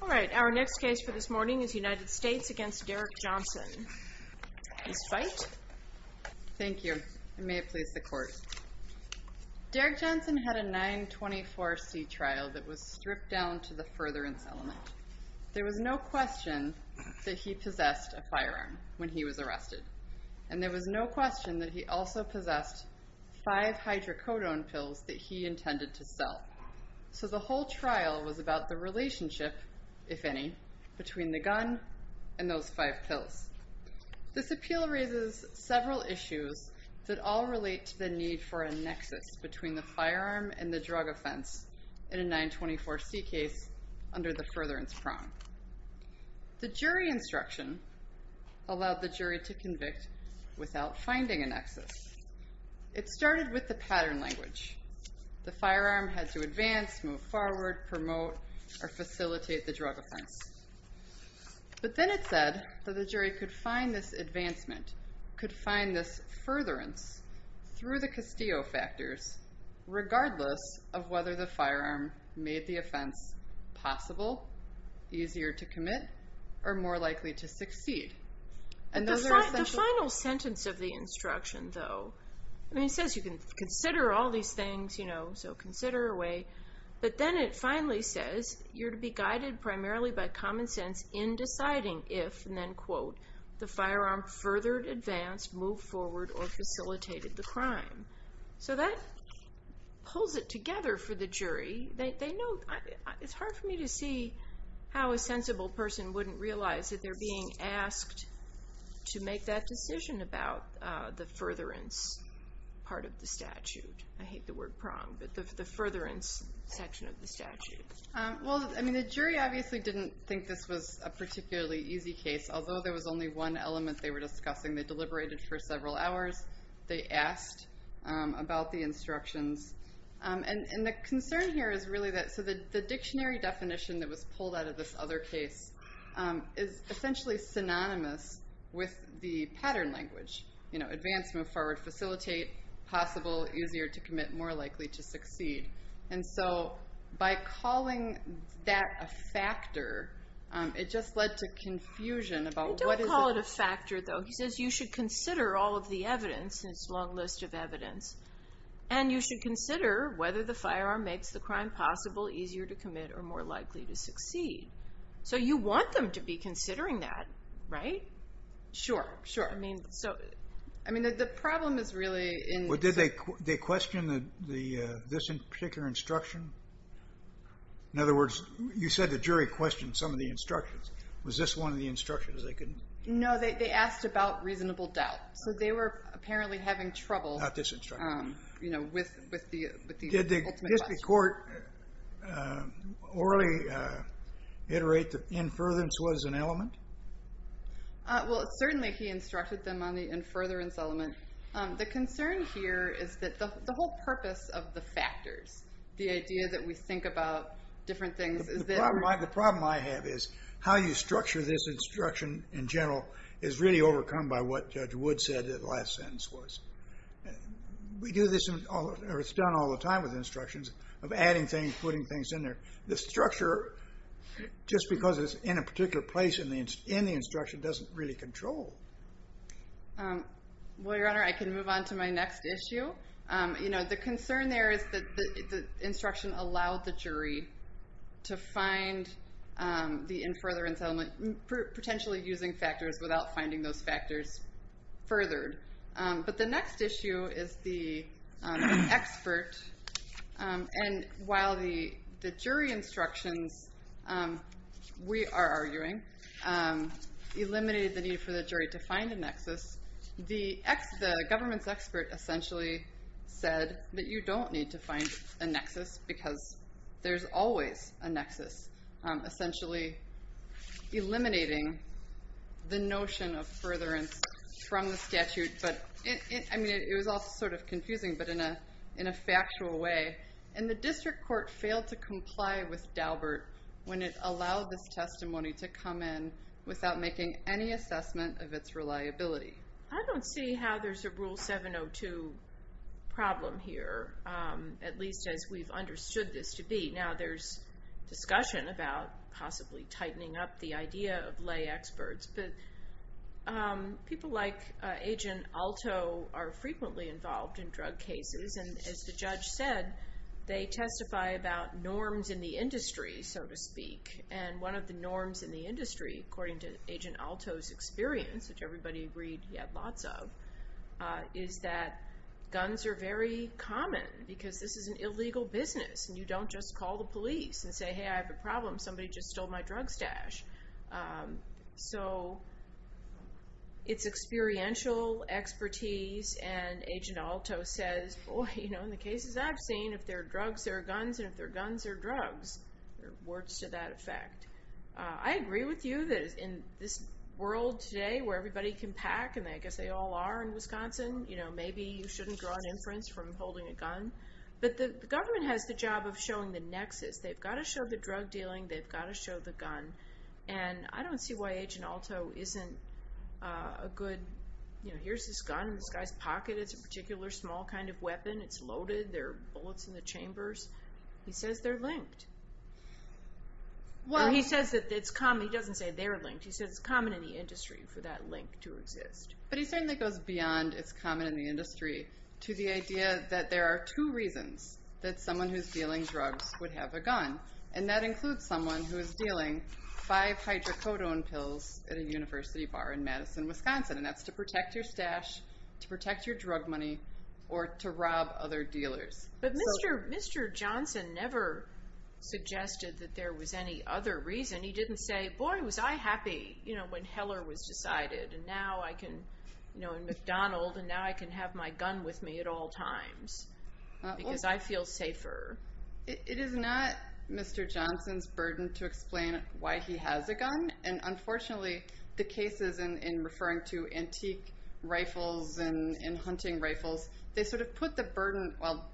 Alright, our next case for this morning is United States v. Derrick Johnson. Please fight. Thank you. And may it please the court. Derrick Johnson had a 924C trial that was stripped down to the furtherance element. There was no question that he possessed a firearm when he was arrested. And there was no question that he also possessed five hydrocodone pills that he intended to sell. So the whole trial was about the relationship, if any, between the gun and those five pills. This appeal raises several issues that all relate to the need for a nexus between the firearm and the drug offense in a 924C case under the furtherance prong. The jury instruction allowed the jury to convict without finding a nexus. It started with the pattern language. The firearm had to advance, move forward, promote, or facilitate the drug offense. But then it said that the jury could find this advancement, could find this furtherance, through the Castillo factors, regardless of whether the firearm made the offense possible, easier to commit, or more likely to succeed. The final sentence of the instruction, though, it says you can consider all these things, so consider away. But then it finally says you're to be guided primarily by common sense in deciding if, and then quote, the firearm furthered, advanced, moved forward, or facilitated the crime. So that pulls it together for the jury. It's hard for me to see how a sensible person wouldn't realize that they're being asked to make that decision about the furtherance part of the statute. I hate the word prong, but the furtherance section of the statute. Well, I mean, the jury obviously didn't think this was a particularly easy case. Although there was only one element they were discussing, they deliberated for several hours. They asked about the instructions. And the concern here is really that, so the dictionary definition that was pulled out of this other case is essentially synonymous with the pattern language. You know, advanced, move forward, facilitate, possible, easier to commit, more likely to succeed. And so by calling that a factor, it just led to confusion about what is it. And it's a long list of evidence. And you should consider whether the firearm makes the crime possible, easier to commit, or more likely to succeed. So you want them to be considering that, right? Sure, sure. I mean, the problem is really in... Well, did they question this particular instruction? In other words, you said the jury questioned some of the instructions. Was this one of the instructions? No, they asked about reasonable doubt. So they were apparently having trouble... Not this instruction. You know, with the ultimate question. Did the District Court orally iterate that inference was an element? Well, certainly he instructed them on the inference element. The concern here is that the whole purpose of the factors, the idea that we think about different things is that... The problem I have is how you structure this instruction in general is really overcome by what Judge Wood said the last sentence was. We do this, or it's done all the time with instructions, of adding things, putting things in there. The structure, just because it's in a particular place in the instruction, doesn't really control. Well, Your Honor, I can move on to my next issue. The concern there is that the instruction allowed the jury to find the inference element, potentially using factors without finding those factors furthered. But the next issue is the expert. And while the jury instructions, we are arguing, eliminated the need for the jury to find a nexus, the government's expert essentially said that you don't need to find a nexus because there's always a nexus, essentially eliminating the notion of furtherance from the statute. It was all sort of confusing, but in a factual way. And the district court failed to comply with Daubert when it allowed this testimony to come in without making any assessment of its reliability. I don't see how there's a Rule 702 problem here, at least as we've understood this to be. Now, there's discussion about possibly tightening up the idea of lay experts, but people like Agent Alto are frequently involved in drug cases. And as the judge said, they testify about norms in the industry, so to speak. And one of the norms in the industry, according to Agent Alto's experience, which everybody agreed he had lots of, is that guns are very common because this is an illegal business. And you don't just call the police and say, hey, I have a problem. Somebody just stole my drug stash. So it's experiential expertise. And Agent Alto says, boy, in the cases I've seen, if they're drugs, they're guns. And if they're guns, they're drugs. Words to that effect. I agree with you that in this world today where everybody can pack, and I guess they all are in Wisconsin, maybe you shouldn't draw an inference from holding a gun. But the government has the job of showing the nexus. They've got to show the drug dealing. They've got to show the gun. And I don't see why Agent Alto isn't a good, you know, here's this gun in this guy's pocket. It's a particular small kind of weapon. It's loaded. There are bullets in the chambers. He says they're linked. He doesn't say they're linked. He says it's common in the industry for that link to exist. But he certainly goes beyond it's common in the industry to the idea that there are two reasons that someone who's dealing drugs would have a gun, and that includes someone who is dealing five hydrocodone pills at a university bar in Madison, Wisconsin, and that's to protect your stash, to protect your drug money, or to rob other dealers. But Mr. Johnson never suggested that there was any other reason. He didn't say, boy, was I happy when Heller was decided, and now I can, you know, in McDonald's, and now I can have my gun with me at all times. Because I feel safer. It is not Mr. Johnson's burden to explain why he has a gun, and unfortunately the cases in referring to antique rifles and hunting rifles, they sort of put the burden, well,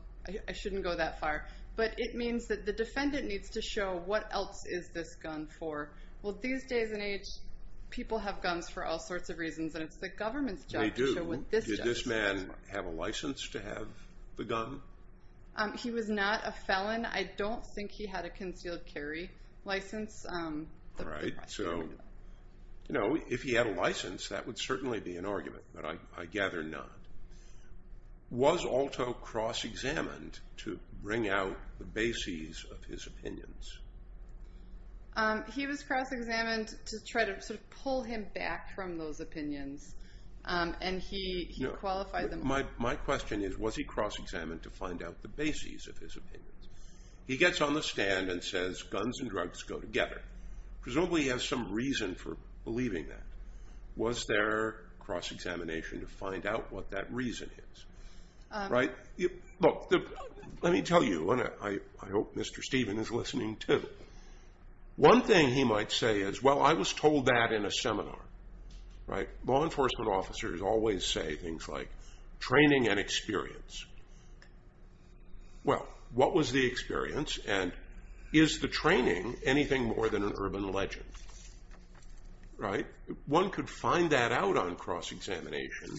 I shouldn't go that far, but it means that the defendant needs to show what else is this gun for. Well, these days and age, people have guns for all sorts of reasons, and it's the government's job to show what this does. Did this man have a license to have the gun? He was not a felon. I don't think he had a concealed carry license. All right, so, you know, if he had a license, that would certainly be an argument, but I gather not. Was Alto cross-examined to bring out the bases of his opinions? He was cross-examined to try to sort of pull him back from those opinions, and he qualified them all. My question is, was he cross-examined to find out the bases of his opinions? He gets on the stand and says, guns and drugs go together. Presumably he has some reason for believing that. Was there cross-examination to find out what that reason is? Right? Look, let me tell you, and I hope Mr. Stephen is listening, too. One thing he might say is, well, I was told that in a seminar. Right? Law enforcement officers always say things like, training and experience. Well, what was the experience, and is the training anything more than an urban legend? Right? One could find that out on cross-examination,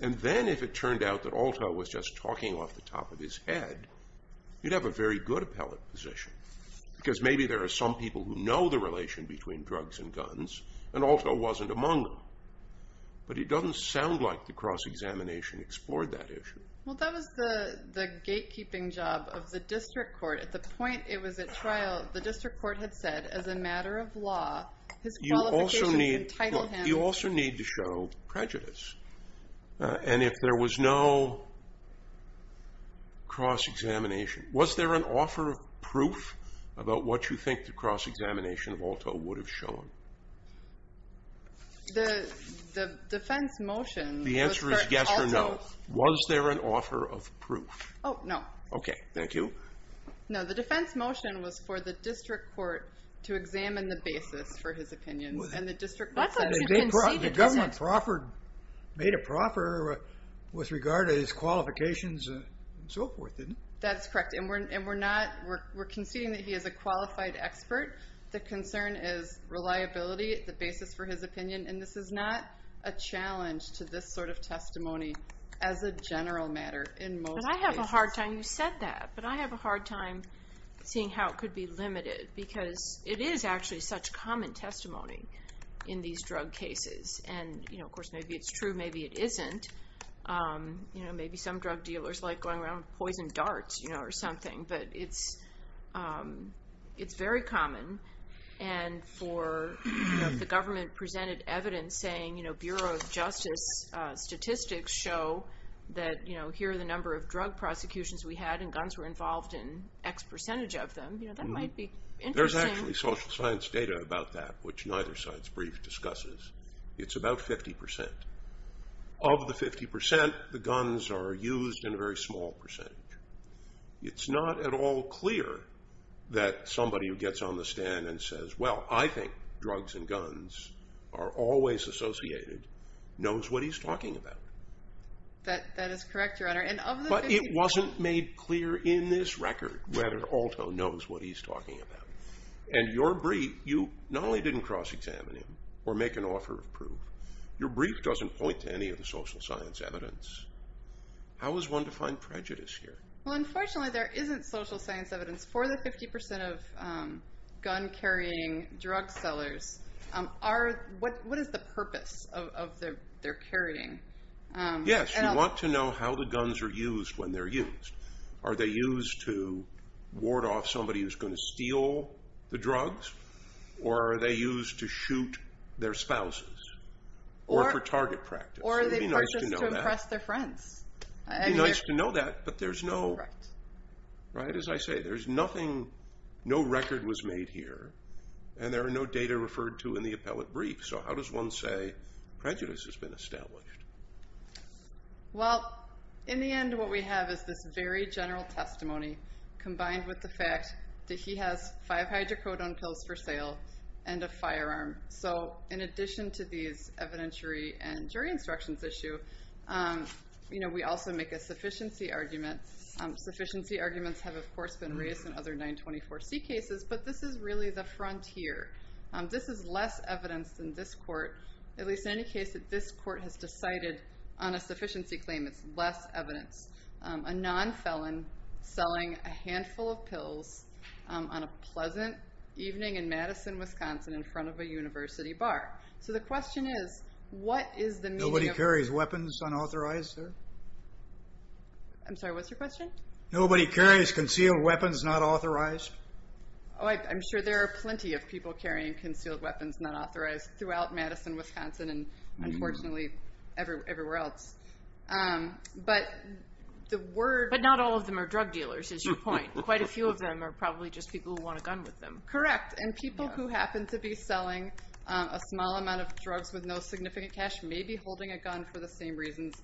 and then if it turned out that Alto was just talking off the top of his head, you'd have a very good appellate position, because maybe there are some people who know the relation between drugs and guns, and Alto wasn't among them. But it doesn't sound like the cross-examination explored that issue. Well, that was the gatekeeping job of the district court. At the point it was at trial, the district court had said, as a matter of law, his qualifications entitle him. You also need to show prejudice. And if there was no cross-examination, was there an offer of proof about what you think the cross-examination of Alto would have shown? The defense motion was for Alto. The answer is yes or no. Was there an offer of proof? Oh, no. Okay. Thank you. No, the defense motion was for the district court to examine the basis for his opinions, and the district court said it didn't. The government made a proffer with regard to his qualifications and so forth, didn't it? That's correct. And we're conceding that he is a qualified expert. The concern is reliability, the basis for his opinion, and this is not a challenge to this sort of testimony as a general matter in most cases. But I have a hard time seeing how it could be limited, because it is actually such common testimony in these drug cases. And, of course, maybe it's true, maybe it isn't. Maybe some drug dealers like going around with poison darts or something, but it's very common. And for the government presented evidence saying, you know, Bureau of Justice statistics show that here are the number of drug prosecutions we had and guns were involved in X percentage of them, that might be interesting. There's actually social science data about that, which neither science brief discusses. It's about 50%. Of the 50%, the guns are used in a very small percentage. It's not at all clear that somebody who gets on the stand and says, well, I think drugs and guns are always associated, knows what he's talking about. That is correct, Your Honor. But it wasn't made clear in this record whether Alto knows what he's talking about. And your brief, you not only didn't cross-examine him or make an offer of proof, your brief doesn't point to any of the social science evidence. How is one to find prejudice here? Well, unfortunately, there isn't social science evidence for the 50% of gun-carrying drug sellers. What is the purpose of their carrying? Yes, you want to know how the guns are used when they're used. Are they used to ward off somebody who's going to steal the drugs? Or are they used to shoot their spouses or for target practice? Or are they purchased to impress their friends? It would be nice to know that, but there's no record was made here, and there are no data referred to in the appellate brief. So how does one say prejudice has been established? Well, in the end, what we have is this very general testimony combined with the fact that he has five hydrocodone pills for sale and a firearm. So in addition to these evidentiary and jury instructions issue, we also make a sufficiency argument. Sufficiency arguments have, of course, been raised in other 924C cases, but this is really the frontier. This is less evidence than this court, at least in any case that this court has decided on a sufficiency claim. It's less evidence. A non-felon selling a handful of pills on a pleasant evening in Madison, Wisconsin, in front of a university bar. So the question is, what is the meaning of... Nobody carries weapons unauthorized there? I'm sorry, what's your question? Nobody carries concealed weapons not authorized? I'm sure there are plenty of people carrying concealed weapons not authorized throughout Madison, Wisconsin and, unfortunately, everywhere else. But the word... But not all of them are drug dealers, is your point. Quite a few of them are probably just people who want a gun with them. Correct, and people who happen to be selling a small amount of drugs with no significant cash may be holding a gun for the same reasons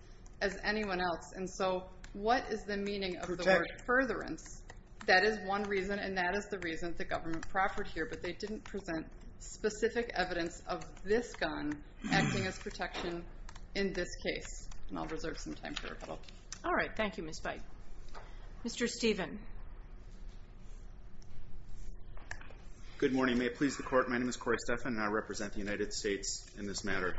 as anyone else. And so what is the meaning of the word furtherance? That is one reason, and that is the reason the government proffered here, but they didn't present specific evidence of this gun acting as protection in this case. And I'll reserve some time for rebuttal. All right, thank you, Ms. Bight. Mr. Stephen. Good morning. May it please the Court. My name is Corey Stephan, and I represent the United States in this matter.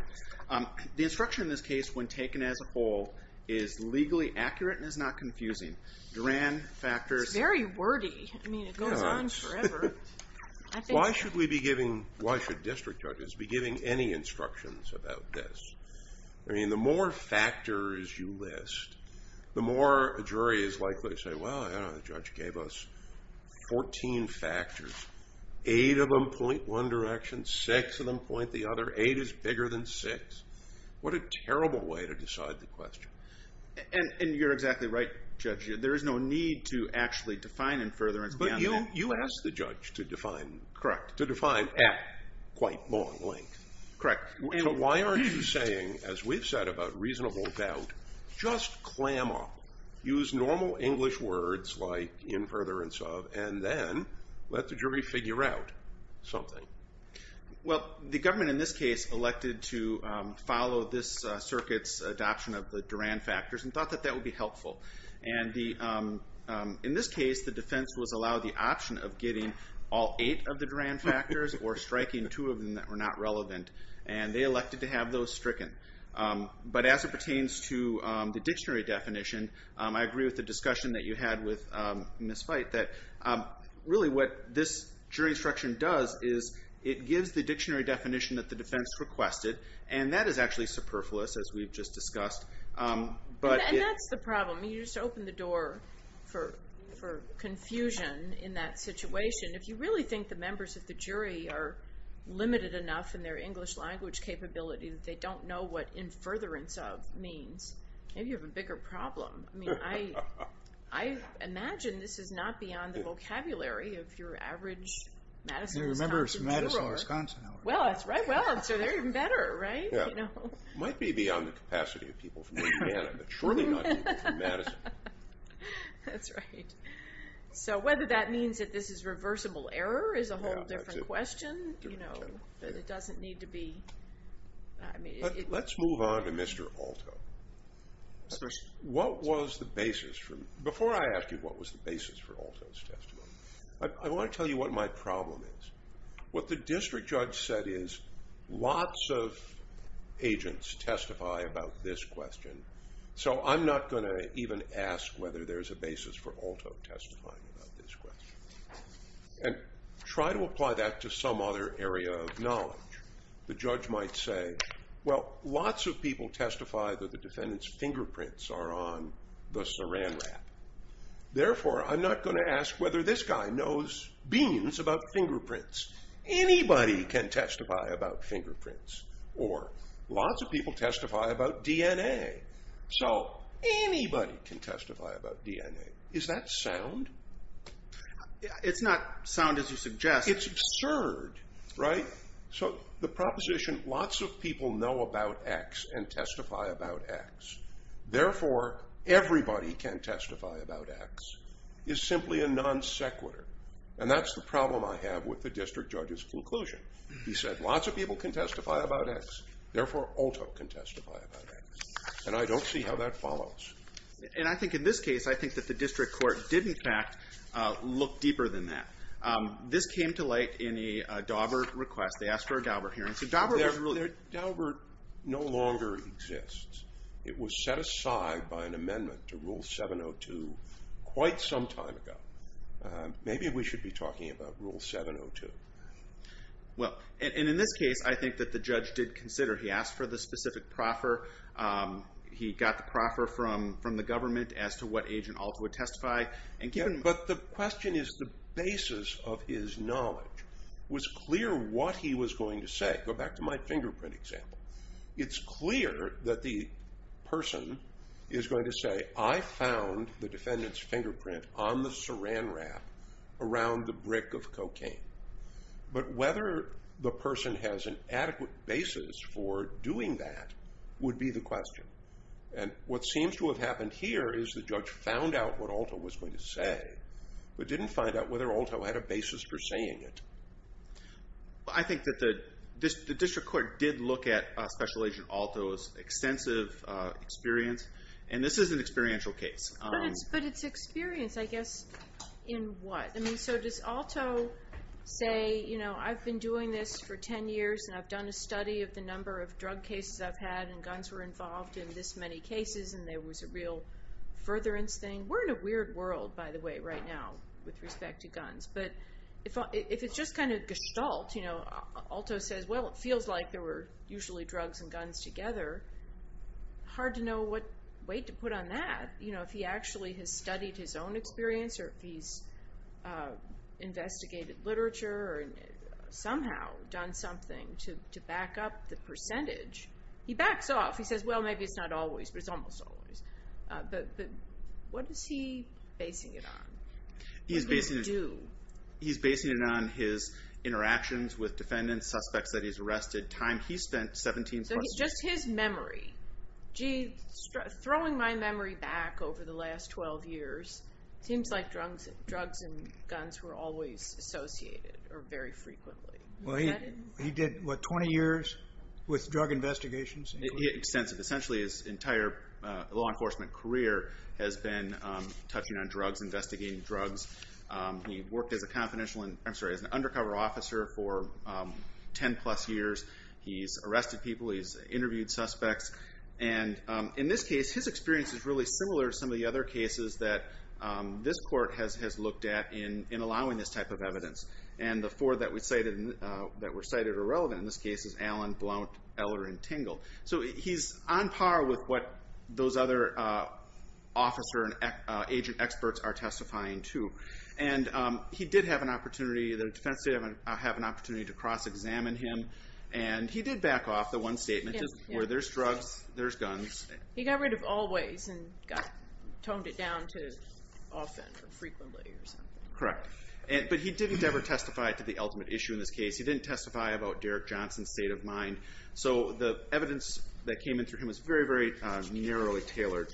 The instruction in this case, when taken as a whole, is legally accurate and is not confusing. Duran factors... It's very wordy. I mean, it goes on forever. Why should we be giving, why should district judges be giving any instructions about this? I mean, the more factors you list, the more a jury is likely to say, well, I don't know, the judge gave us 14 factors. Eight of them point one direction, six of them point the other. Eight is bigger than six. What a terrible way to decide the question. And you're exactly right, Judge. There is no need to actually define in furtherance beyond that. But you asked the judge to define at quite long length. Correct. So why aren't you saying, as we've said about reasonable doubt, just clam up, use normal English words like in furtherance of, and then let the jury figure out something? Well, the government in this case elected to follow this circuit's adoption of the Duran factors and thought that that would be helpful. And in this case, the defense was allowed the option of getting all eight of the Duran factors or striking two of them that were not relevant. And they elected to have those stricken. But as it pertains to the dictionary definition, I agree with the discussion that you had with Ms. Veith, that really what this jury instruction does is it gives the dictionary definition that the defense requested, and that is actually superfluous, as we've just discussed. And that's the problem. You just open the door for confusion in that situation. If you really think the members of the jury are limited enough in their English language capability that they don't know what in furtherance of means, maybe you have a bigger problem. I mean, I imagine this is not beyond the vocabulary of your average Madison, Wisconsin juror. You remember it's Madison, Wisconsin hour. Well, that's right. So they're even better, right? Yeah. Might be beyond the capacity of people from Indiana, but surely not people from Madison. That's right. So whether that means that this is reversible error is a whole different question. But it doesn't need to be. Let's move on to Mr. Alto. What was the basis for him? Before I ask you what was the basis for Alto's testimony, I want to tell you what my problem is. What the district judge said is lots of agents testify about this question, so I'm not going to even ask whether there's a basis for Alto testifying about this question. And try to apply that to some other area of knowledge. The judge might say, well, lots of people testify that the defendant's fingerprints are on the saran wrap. Therefore, I'm not going to ask whether this guy knows beans about fingerprints. Anybody can testify about fingerprints. Or lots of people testify about DNA. So anybody can testify about DNA. Is that sound? It's not sound as you suggest. It's absurd, right? So the proposition, lots of people know about X and testify about X. Therefore, everybody can testify about X is simply a non sequitur. And that's the problem I have with the district judge's conclusion. He said lots of people can testify about X. Therefore, Alto can testify about X. And I don't see how that follows. And I think in this case, I think that the district court did, in fact, look deeper than that. This came to light in a Daubert request. They asked for a Daubert hearing. Daubert no longer exists. It was set aside by an amendment to Rule 702 quite some time ago. Maybe we should be talking about Rule 702. Well, and in this case, I think that the judge did consider. He asked for the specific proffer. He got the proffer from the government as to what Agent Alto would testify. But the question is the basis of his knowledge was clear what he was going to say. Go back to my fingerprint example. It's clear that the person is going to say, I found the defendant's fingerprint on the saran wrap around the brick of cocaine. But whether the person has an adequate basis for doing that would be the question. And what seems to have happened here is the judge found out what Alto was going to say but didn't find out whether Alto had a basis for saying it. I think that the district court did look at Special Agent Alto's extensive experience. And this is an experiential case. But it's experience, I guess, in what? So does Alto say, you know, I've been doing this for 10 years and I've done a study of the number of drug cases I've had and guns were involved in this many cases and there was a real furtherance thing? We're in a weird world, by the way, right now with respect to guns. But if it's just kind of gestalt, you know, Alto says, well, it feels like there were usually drugs and guns together. Hard to know what weight to put on that. You know, if he actually has studied his own experience or if he's investigated literature or somehow done something to back up the percentage. He backs off. He says, well, maybe it's not always, but it's almost always. But what is he basing it on? What does he do? He's basing it on his interactions with defendants, suspects that he's arrested, time he spent, 17 plus years. So just his memory. Gee, throwing my memory back over the last 12 years, it seems like drugs and guns were always associated or very frequently. Well, he did, what, 20 years with drug investigations? Extensive. Essentially his entire law enforcement career has been touching on drugs, investigating drugs. He worked as an undercover officer for 10 plus years. He's arrested people. He's interviewed suspects. And in this case, his experience is really similar to some of the other cases that this court has looked at in allowing this type of evidence. And the four that were cited are relevant in this case is Allen, Blount, Eller, and Tingle. So he's on par with what those other officer and agent experts are testifying to. And he did have an opportunity, the defense did have an opportunity to cross-examine him. And he did back off the one statement where there's drugs, there's guns. He got rid of always and toned it down to often or frequently or something. Correct. But he didn't ever testify to the ultimate issue in this case. He didn't testify about Derek Johnson's state of mind. So the evidence that came in through him is very, very narrowly tailored.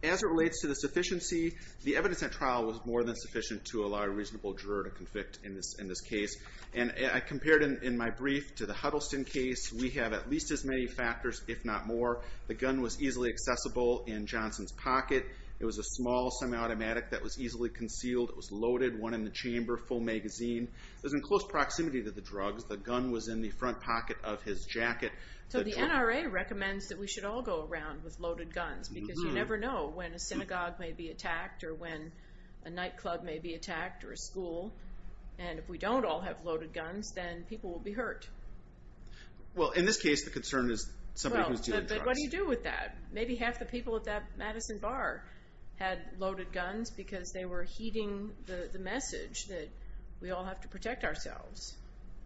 As it relates to the sufficiency, the evidence at trial was more than sufficient to allow a reasonable juror to convict in this case. And I compared in my brief to the Huddleston case, we have at least as many factors, if not more. The gun was easily accessible in Johnson's pocket. It was a small semi-automatic that was easily concealed. It was loaded, one in the chamber, full magazine. It was in close proximity to the drugs. The gun was in the front pocket of his jacket. So the NRA recommends that we should all go around with loaded guns because you never know when a synagogue may be attacked or when a nightclub may be attacked or a school. And if we don't all have loaded guns, then people will be hurt. Well, in this case, the concern is somebody who's dealing drugs. But what do you do with that? Maybe half the people at that Madison bar had loaded guns because they were heeding the message that we all have to protect ourselves.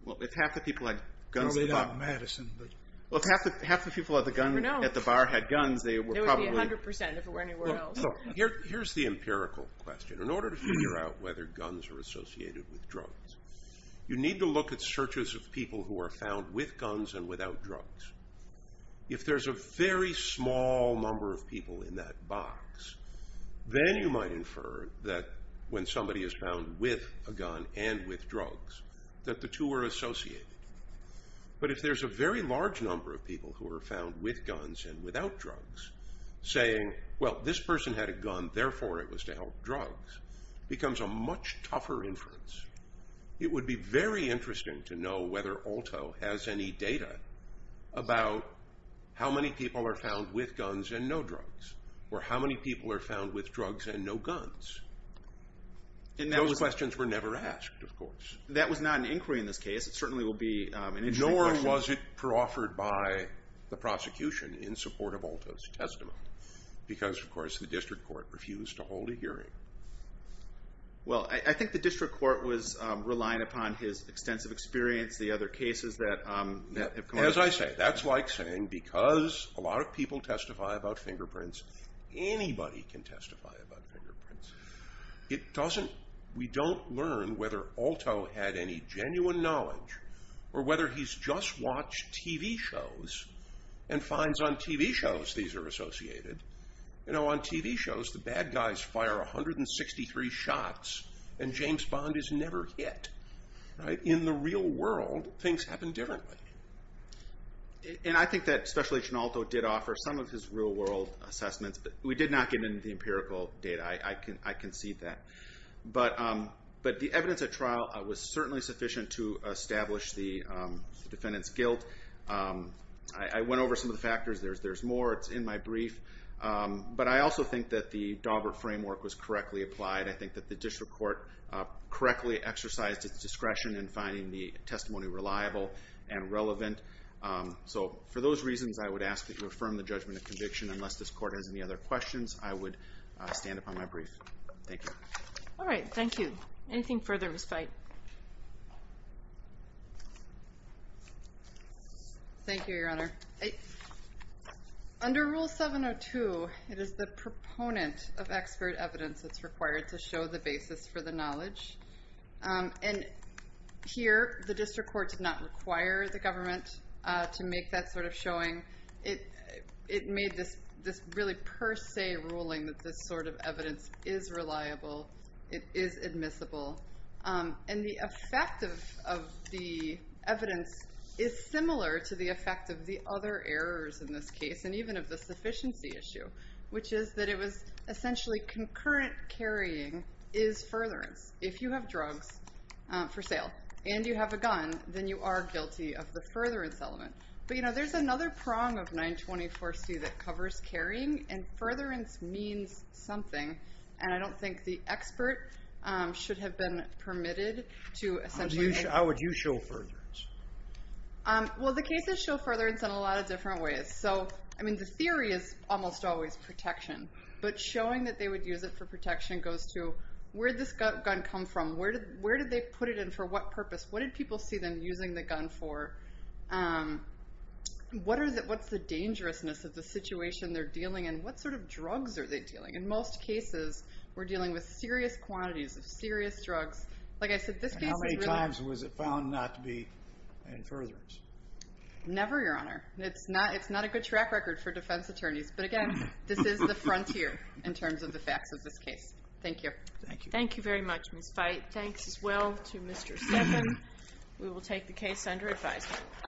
Well, if half the people had guns at the bar... Well, they got Madison, but... Well, if half the people at the bar had guns, they were probably... It would be 100% if it were anywhere else. Here's the empirical question. In order to figure out whether guns are associated with drugs, you need to look at searches of people who are found with guns and without drugs. If there's a very small number of people in that box, then you might infer that when somebody is found with a gun and with drugs, that the two are associated. But if there's a very large number of people who are found with guns and without drugs, saying, well, this person had a gun, therefore it was to help drugs, becomes a much tougher inference. It would be very interesting to know whether ALTO has any data about how many people are found with guns and no drugs or how many people are found with drugs and no guns. And those questions were never asked, of course. That was not an inquiry in this case. It certainly will be an interesting question. Nor was it offered by the prosecution in support of ALTO's testimony because, of course, the district court refused to hold a hearing. Well, I think the district court was relying upon his extensive experience, the other cases that have come up. As I say, that's like saying because a lot of people testify about fingerprints, anybody can testify about fingerprints. We don't learn whether ALTO had any genuine knowledge or whether he's just watched TV shows and finds on TV shows these are associated. On TV shows, the bad guys fire 163 shots and James Bond is never hit. In the real world, things happen differently. And I think that Special Agent ALTO did offer some of his real-world assessments, but we did not get into the empirical data. I concede that. But the evidence at trial was certainly sufficient to establish the defendant's guilt. I went over some of the factors. There's more. It's in my brief. But I also think that the Daubert framework was correctly applied. I think that the district court correctly exercised its discretion in finding the testimony reliable and relevant. So for those reasons, I would ask that you affirm the judgment of conviction and unless this court has any other questions, I would stand upon my brief. Thank you. All right. Thank you. Anything further, Ms. Fite? Thank you, Your Honor. Under Rule 702, it is the proponent of expert evidence that's required to show the basis for the knowledge. And here, the district court did not require the government to make that sort of showing. It made this really per se ruling that this sort of evidence is reliable. It is admissible. And the effect of the evidence is similar to the effect of the other errors in this case, and even of the sufficiency issue, which is that it was essentially concurrent carrying is furtherance. If you have drugs for sale and you have a gun, then you are guilty of the furtherance element. But, you know, there's another prong of 924C that covers carrying, and furtherance means something. And I don't think the expert should have been permitted to essentially How would you show furtherance? Well, the case is show furtherance in a lot of different ways. So, I mean, the theory is almost always protection. But showing that they would use it for protection goes to where did this gun come from? Where did they put it in for what purpose? What did people see them using the gun for? What's the dangerousness of the situation they're dealing in? What sort of drugs are they dealing? In most cases, we're dealing with serious quantities of serious drugs. Like I said, this case is really And how many times was it found not to be in furtherance? Never, Your Honor. It's not a good track record for defense attorneys. But, again, this is the frontier in terms of the facts of this case. Thank you. Thank you. Thank you very much, Ms. Veit. Thanks as well to Mr. Steffen. We will take the case under advisement.